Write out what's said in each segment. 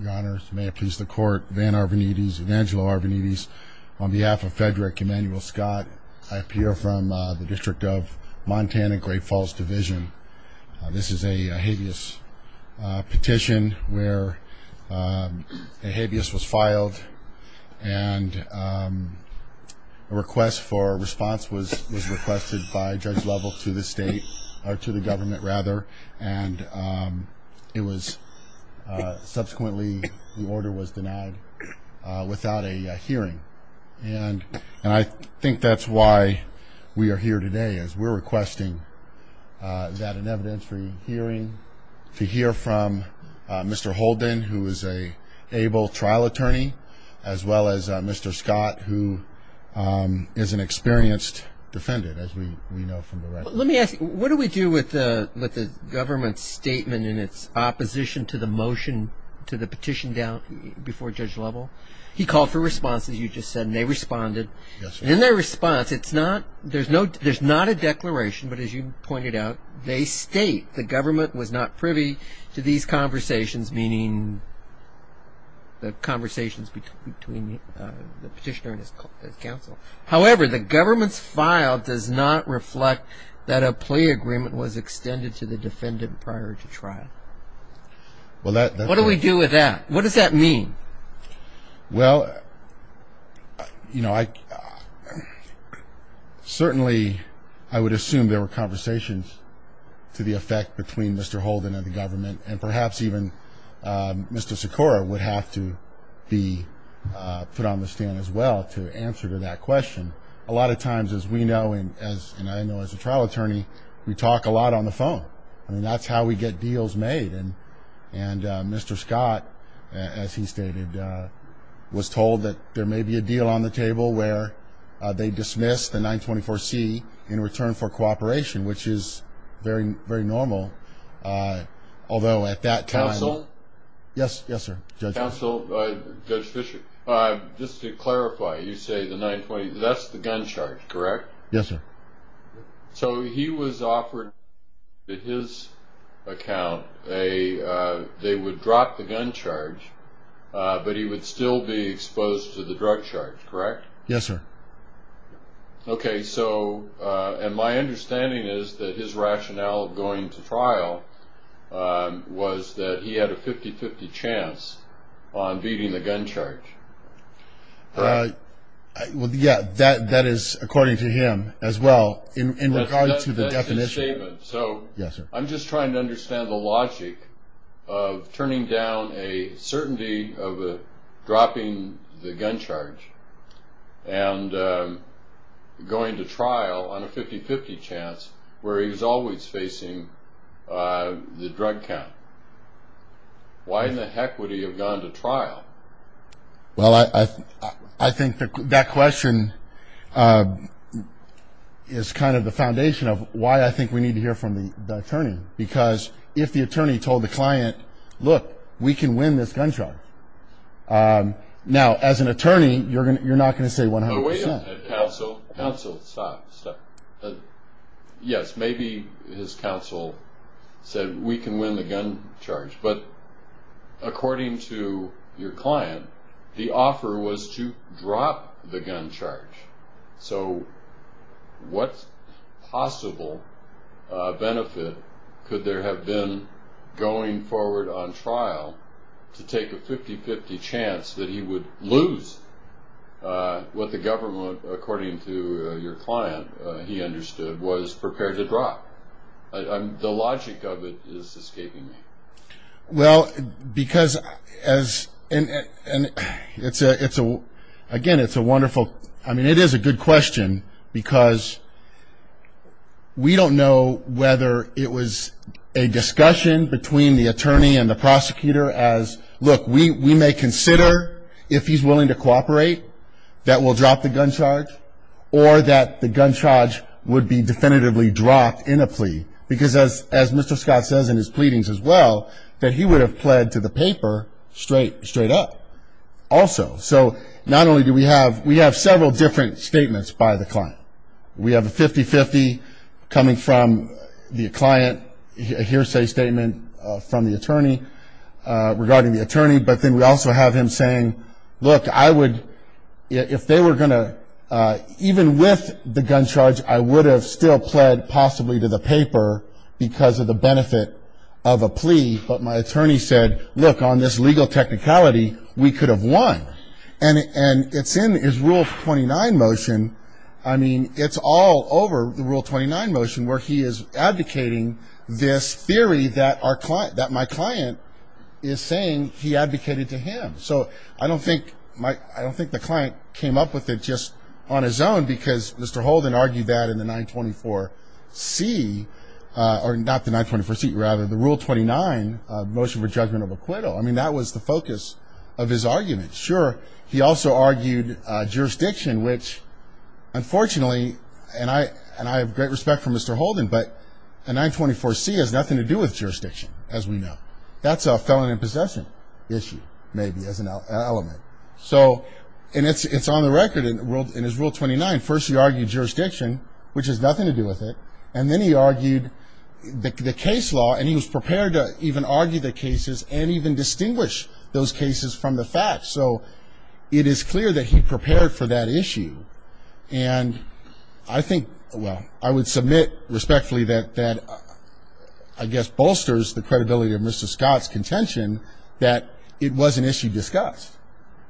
Your Honor, may it please the court, Van Arvanites, Evangelo Arvanites, on behalf of Frederic Emanuel Scott, I appear from the District of Montana, Great Falls Division. This is a habeas petition where a habeas was filed and a request for response was requested by Judge Lovell to the state, or to the government rather, and it was subsequently, the order was denied without a hearing. And I think that's why we are here today, is we're requesting that an evidentiary hearing to hear from Mr. Holden, who is an able trial attorney, as well as Mr. Scott, who is an experienced defendant, as we know from the record. Let me ask you, what do we do with the government's statement in its opposition to the motion, to the petition before Judge Lovell? He called for response, as you just said, and they responded. In their response, there's not a declaration, but as you pointed out, they state the government was not privy to these conversations, meaning the conversations between the petitioner and his counsel. However, the government's file does not reflect that a plea agreement was extended to the defendant prior to trial. What do we do with that? What does that mean? Well, you know, certainly I would assume there were conversations to the effect between Mr. Holden and the government, and perhaps even Mr. Sikora would have to be put on the stand as well to answer to that question. A lot of times, as we know and I know as a trial attorney, we talk a lot on the phone. I mean, that's how we get deals made. And Mr. Scott, as he stated, was told that there may be a deal on the table where they dismiss the 924C in return for cooperation, which is very normal, although at that time... Counsel? Yes, yes, sir, Judge. Counsel, Judge Fischer, just to clarify, you say the 924C, that's the gun charge, correct? Yes, sir. So he was offered in his account, they would drop the gun charge, but he would still be exposed to the drug charge, correct? Yes, sir. Okay, so, and my understanding is that his rationale of going to trial was that he had a 50-50 chance on beating the gun charge. Well, yeah, that is according to him as well in regard to the definition. That's his statement. Yes, sir. I'm just trying to understand the logic of turning down a certainty of dropping the gun charge and going to trial on a 50-50 chance where he was always facing the drug count. Why in the heck would he have gone to trial? Well, I think that question is kind of the foundation of why I think we need to hear from the attorney, because if the attorney told the client, look, we can win this gun charge. Now, as an attorney, you're not going to say 100%. Wait a minute, Counsel, Counsel, stop, stop. Yes, maybe his counsel said we can win the gun charge, but according to your client, the offer was to drop the gun charge. So what possible benefit could there have been going forward on trial to take a 50-50 chance that he would lose what the government, according to your client, he understood, was prepared to drop? The logic of it is escaping me. Well, because, again, it's a wonderful, I mean, it is a good question, because we don't know whether it was a discussion between the attorney and the prosecutor as, look, we may consider if he's willing to cooperate that we'll drop the gun charge or that the gun charge would be definitively dropped in a plea, because as Mr. Scott says in his pleadings as well, that he would have pled to the paper straight up also. So not only do we have several different statements by the client. We have a 50-50 coming from the client, a hearsay statement from the attorney regarding the attorney, but then we also have him saying, look, I would, if they were going to, even with the gun charge, I would have still pled possibly to the paper because of the benefit of a plea. But my attorney said, look, on this legal technicality, we could have won. And it's in his Rule 29 motion, I mean, it's all over the Rule 29 motion, where he is advocating this theory that my client is saying he advocated to him. So I don't think the client came up with it just on his own because Mr. Holden argued that in the 924C, or not the 924C, rather, the Rule 29 motion for judgment of acquittal. I mean, that was the focus of his argument. Sure, he also argued jurisdiction, which, unfortunately, and I have great respect for Mr. Holden, but a 924C has nothing to do with jurisdiction, as we know. That's a felon in possession issue, maybe, as an element. So it's on the record in his Rule 29. First he argued jurisdiction, which has nothing to do with it, and then he argued the case law, and he was prepared to even argue the cases and even distinguish those cases from the facts. So it is clear that he prepared for that issue. And I think, well, I would submit respectfully that that, I guess, bolsters the credibility of Mr. Scott's contention that it was an issue discussed.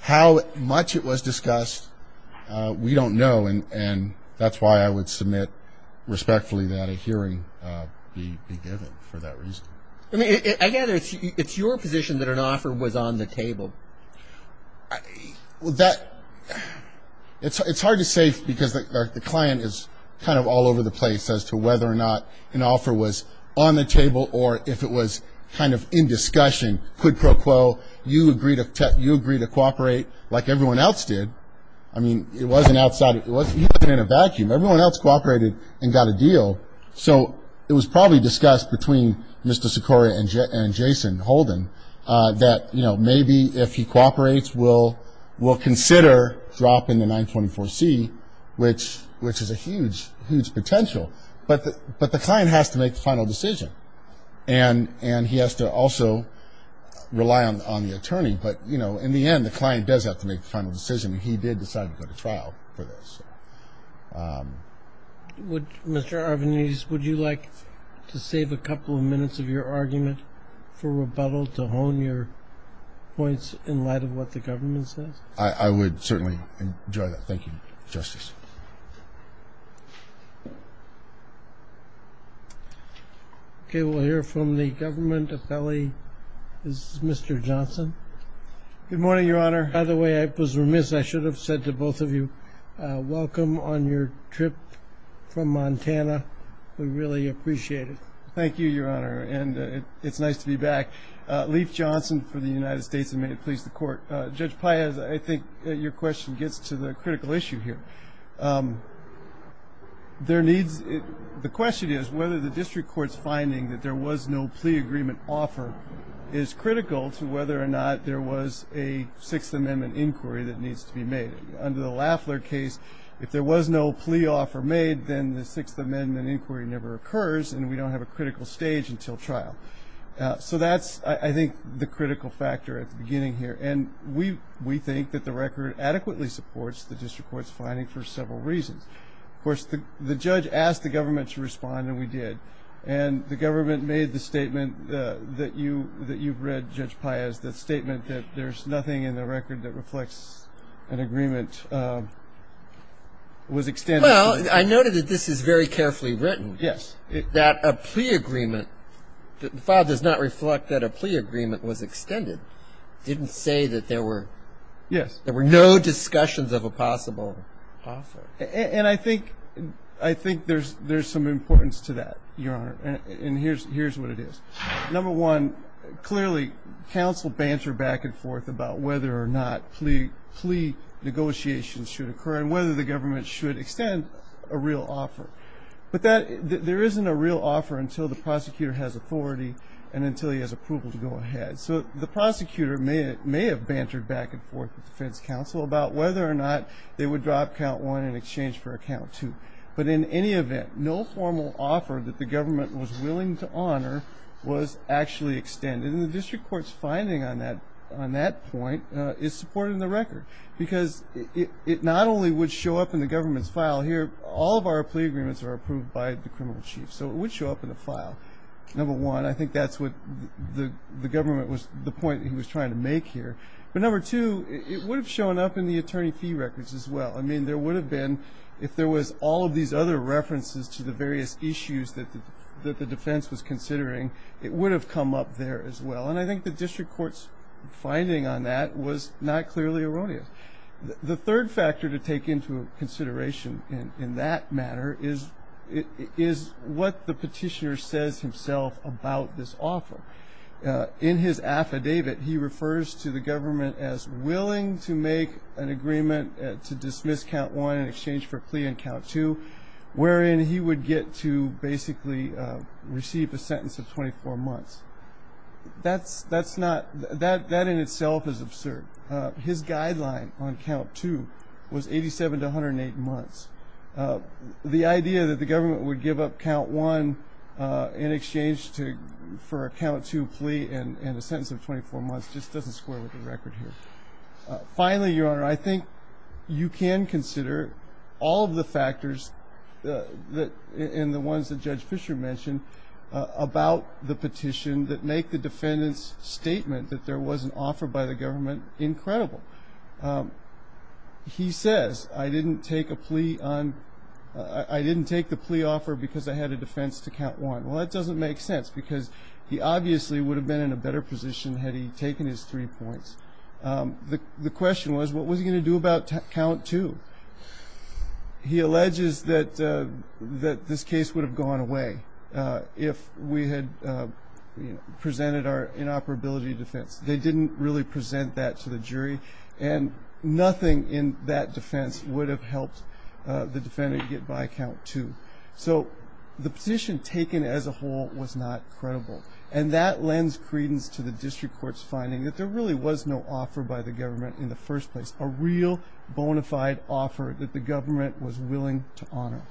How much it was discussed, we don't know, and that's why I would submit respectfully that a hearing be given for that reason. I mean, I gather it's your position that an offer was on the table. That, it's hard to say because the client is kind of all over the place as to whether or not an offer was on the table or if it was kind of in discussion. Quid pro quo, you agreed to cooperate like everyone else did. I mean, it wasn't outside, it wasn't even in a vacuum. Everyone else cooperated and got a deal. So it was probably discussed between Mr. Sicoria and Jason Holden that, you know, maybe if he cooperates, we'll consider dropping the 924C, which is a huge, huge potential. But the client has to make the final decision, and he has to also rely on the attorney. But, you know, in the end, the client does have to make the final decision, and he did decide to go to trial for this. Mr. Arvanites, would you like to save a couple of minutes of your argument for rebuttal to hone your points in light of what the government says? I would certainly enjoy that. Thank you, Justice. Okay. We'll hear from the government. Appellee is Mr. Johnson. Good morning, Your Honor. By the way, I was remiss. I should have said to both of you, welcome on your trip from Montana. We really appreciate it. Thank you, Your Honor, and it's nice to be back. Leif Johnson for the United States, and may it please the Court. Judge Paez, I think your question gets to the critical issue here. There needs to be ñ the question is whether the district court's finding that there was no plea agreement offer is critical to whether or not there was a Sixth Amendment inquiry that needs to be made. Under the Lafler case, if there was no plea offer made, then the Sixth Amendment inquiry never occurs, and we don't have a critical stage until trial. So that's, I think, the critical factor at the beginning here. And we think that the record adequately supports the district court's finding for several reasons. Of course, the judge asked the government to respond, and we did. And the government made the statement that you've read, Judge Paez, the statement that there's nothing in the record that reflects an agreement was extended. Well, I noted that this is very carefully written. Yes. That a plea agreement ñ the file does not reflect that a plea agreement was extended. It didn't say that there were ñ Yes. There were no discussions of a possible offer. And I think there's some importance to that, Your Honor, and here's what it is. Number one, clearly, counsel bantered back and forth about whether or not plea negotiations should occur and whether the government should extend a real offer. But there isn't a real offer until the prosecutor has authority and until he has approval to go ahead. So the prosecutor may have bantered back and forth with defense counsel about whether or not they would drop count one in exchange for a count two. But in any event, no formal offer that the government was willing to honor was actually extended. And the district court's finding on that point is supported in the record because it not only would show up in the government's file here. All of our plea agreements are approved by the criminal chief, so it would show up in the file. Number one, I think that's what the government was ñ the point he was trying to make here. But number two, it would have shown up in the attorney fee records as well. I mean, there would have been, if there was all of these other references to the various issues that the defense was considering, it would have come up there as well. And I think the district court's finding on that was not clearly erroneous. The third factor to take into consideration in that matter is what the petitioner says himself about this offer. In his affidavit, he refers to the government as willing to make an agreement to dismiss count one in exchange for a plea in count two, wherein he would get to basically receive a sentence of 24 months. That in itself is absurd. His guideline on count two was 87 to 108 months. The idea that the government would give up count one in exchange for a count two plea and a sentence of 24 months just doesn't square with the record here. Finally, Your Honor, I think you can consider all of the factors and the ones that Judge Fisher mentioned about the petition that make the defendant's statement that there was an offer by the government incredible. He says, I didn't take the plea offer because I had a defense to count one. Well, that doesn't make sense because he obviously would have been in a better position had he taken his three points. The question was, what was he going to do about count two? He alleges that this case would have gone away if we had presented our inoperability defense. They didn't really present that to the jury, and nothing in that defense would have helped the defendant get by count two. So the petition taken as a whole was not credible, and that lends credence to the district court's finding that there really was no offer by the government in the first place, a real bona fide offer that the government was willing to honor.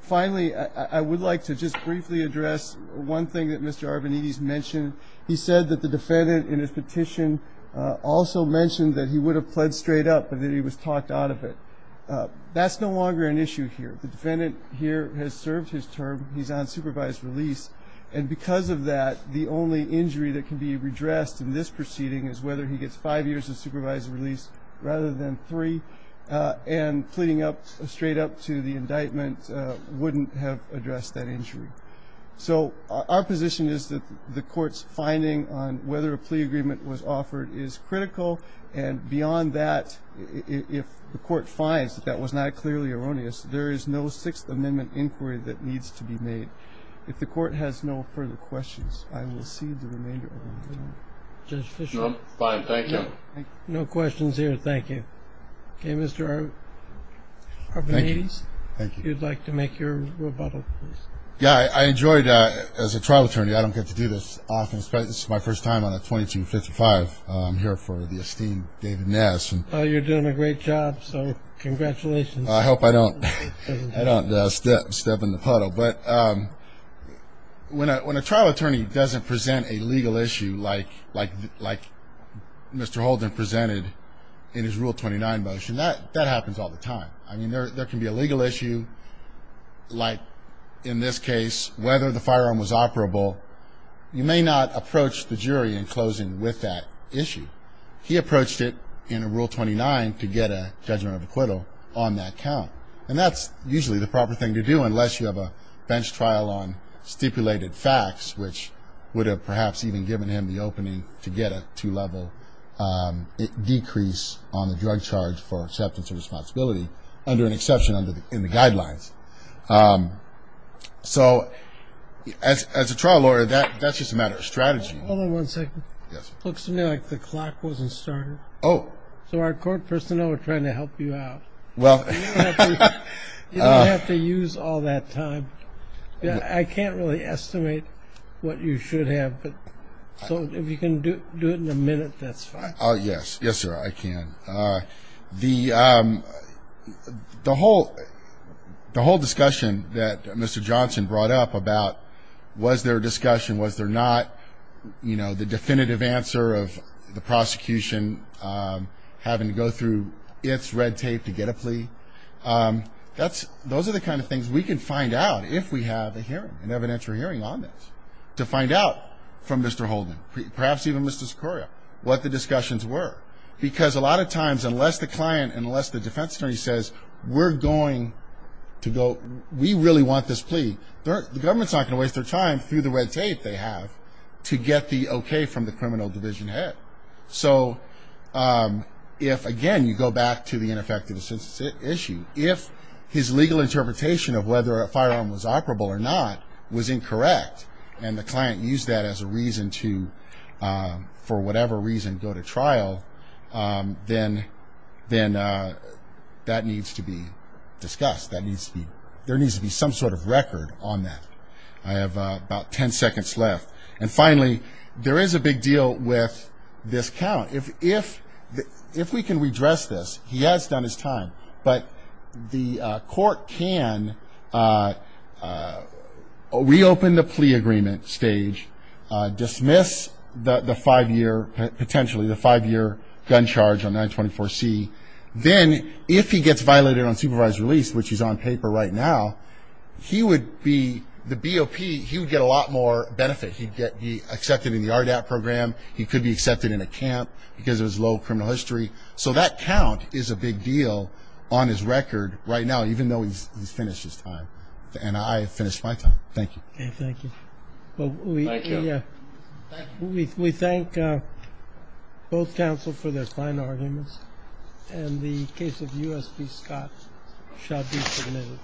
Finally, I would like to just briefly address one thing that Mr. Arvanites mentioned. He said that the defendant in his petition also mentioned that he would have pled straight up and that he was talked out of it. That's no longer an issue here. The defendant here has served his term. He's on supervised release, and because of that, the only injury that can be redressed in this proceeding is whether he gets five years of supervised release rather than three, and pleading straight up to the indictment wouldn't have addressed that injury. So our position is that the court's finding on whether a plea agreement was offered is critical, and beyond that, if the court finds that that was not clearly erroneous, there is no Sixth Amendment inquiry that needs to be made. If the court has no further questions, I will cede the remainder of my time. Judge Fischer? No, I'm fine. Thank you. No questions here. Thank you. Okay, Mr. Arvanites? Thank you. If you'd like to make your rebuttal, please. Yeah, I enjoyed, as a trial attorney, I don't get to do this often. This is my first time on a 2255. I'm here for the esteemed David Ness. You're doing a great job, so congratulations. I hope I don't step in the puddle. But when a trial attorney doesn't present a legal issue like Mr. Holden presented in his Rule 29 motion, that happens all the time. I mean, there can be a legal issue, like in this case, whether the firearm was operable. You may not approach the jury in closing with that issue. He approached it in Rule 29 to get a judgment of acquittal on that count, and that's usually the proper thing to do unless you have a bench trial on stipulated facts, which would have perhaps even given him the opening to get a two-level decrease on the drug charge for acceptance of responsibility under an exception in the guidelines. So as a trial lawyer, that's just a matter of strategy. Hold on one second. Yes, sir. It looks to me like the clock wasn't started. Oh. So our court personnel are trying to help you out. Well. You don't have to use all that time. I can't really estimate what you should have, but if you can do it in a minute, that's fine. Yes. Yes, sir, I can. The whole discussion that Mr. Johnson brought up about was there a discussion, was there not, you know, the definitive answer of the prosecution having to go through its red tape to get a plea, those are the kind of things we can find out if we have a hearing, an evidentiary hearing on this, to find out from Mr. Holden, perhaps even Mr. Sicoria, what the discussions were. Because a lot of times, unless the client, unless the defense attorney says, we're going to go, we really want this plea, the government's not going to waste their time through the red tape they have to get the okay from the criminal division head. So if, again, you go back to the ineffectiveness issue, if his legal interpretation of whether a firearm was operable or not was incorrect and the client used that as a reason to, for whatever reason, go to trial, then that needs to be discussed. There needs to be some sort of record on that. I have about ten seconds left. And finally, there is a big deal with this count. If we can redress this, he has done his time, but the court can reopen the plea agreement stage, dismiss the five-year, potentially the five-year gun charge on 924C, then if he gets violated on supervised release, which is on paper right now, he would be, the BOP, he would get a lot more benefit. He'd get accepted in the RDAP program. He could be accepted in a camp because there's low criminal history. So that count is a big deal on his record right now, even though he's finished his time. And I have finished my time. Thank you. Thank you. Thank you. We thank both counsel for their fine arguments. And the case of U.S.P. Scott shall be submitted.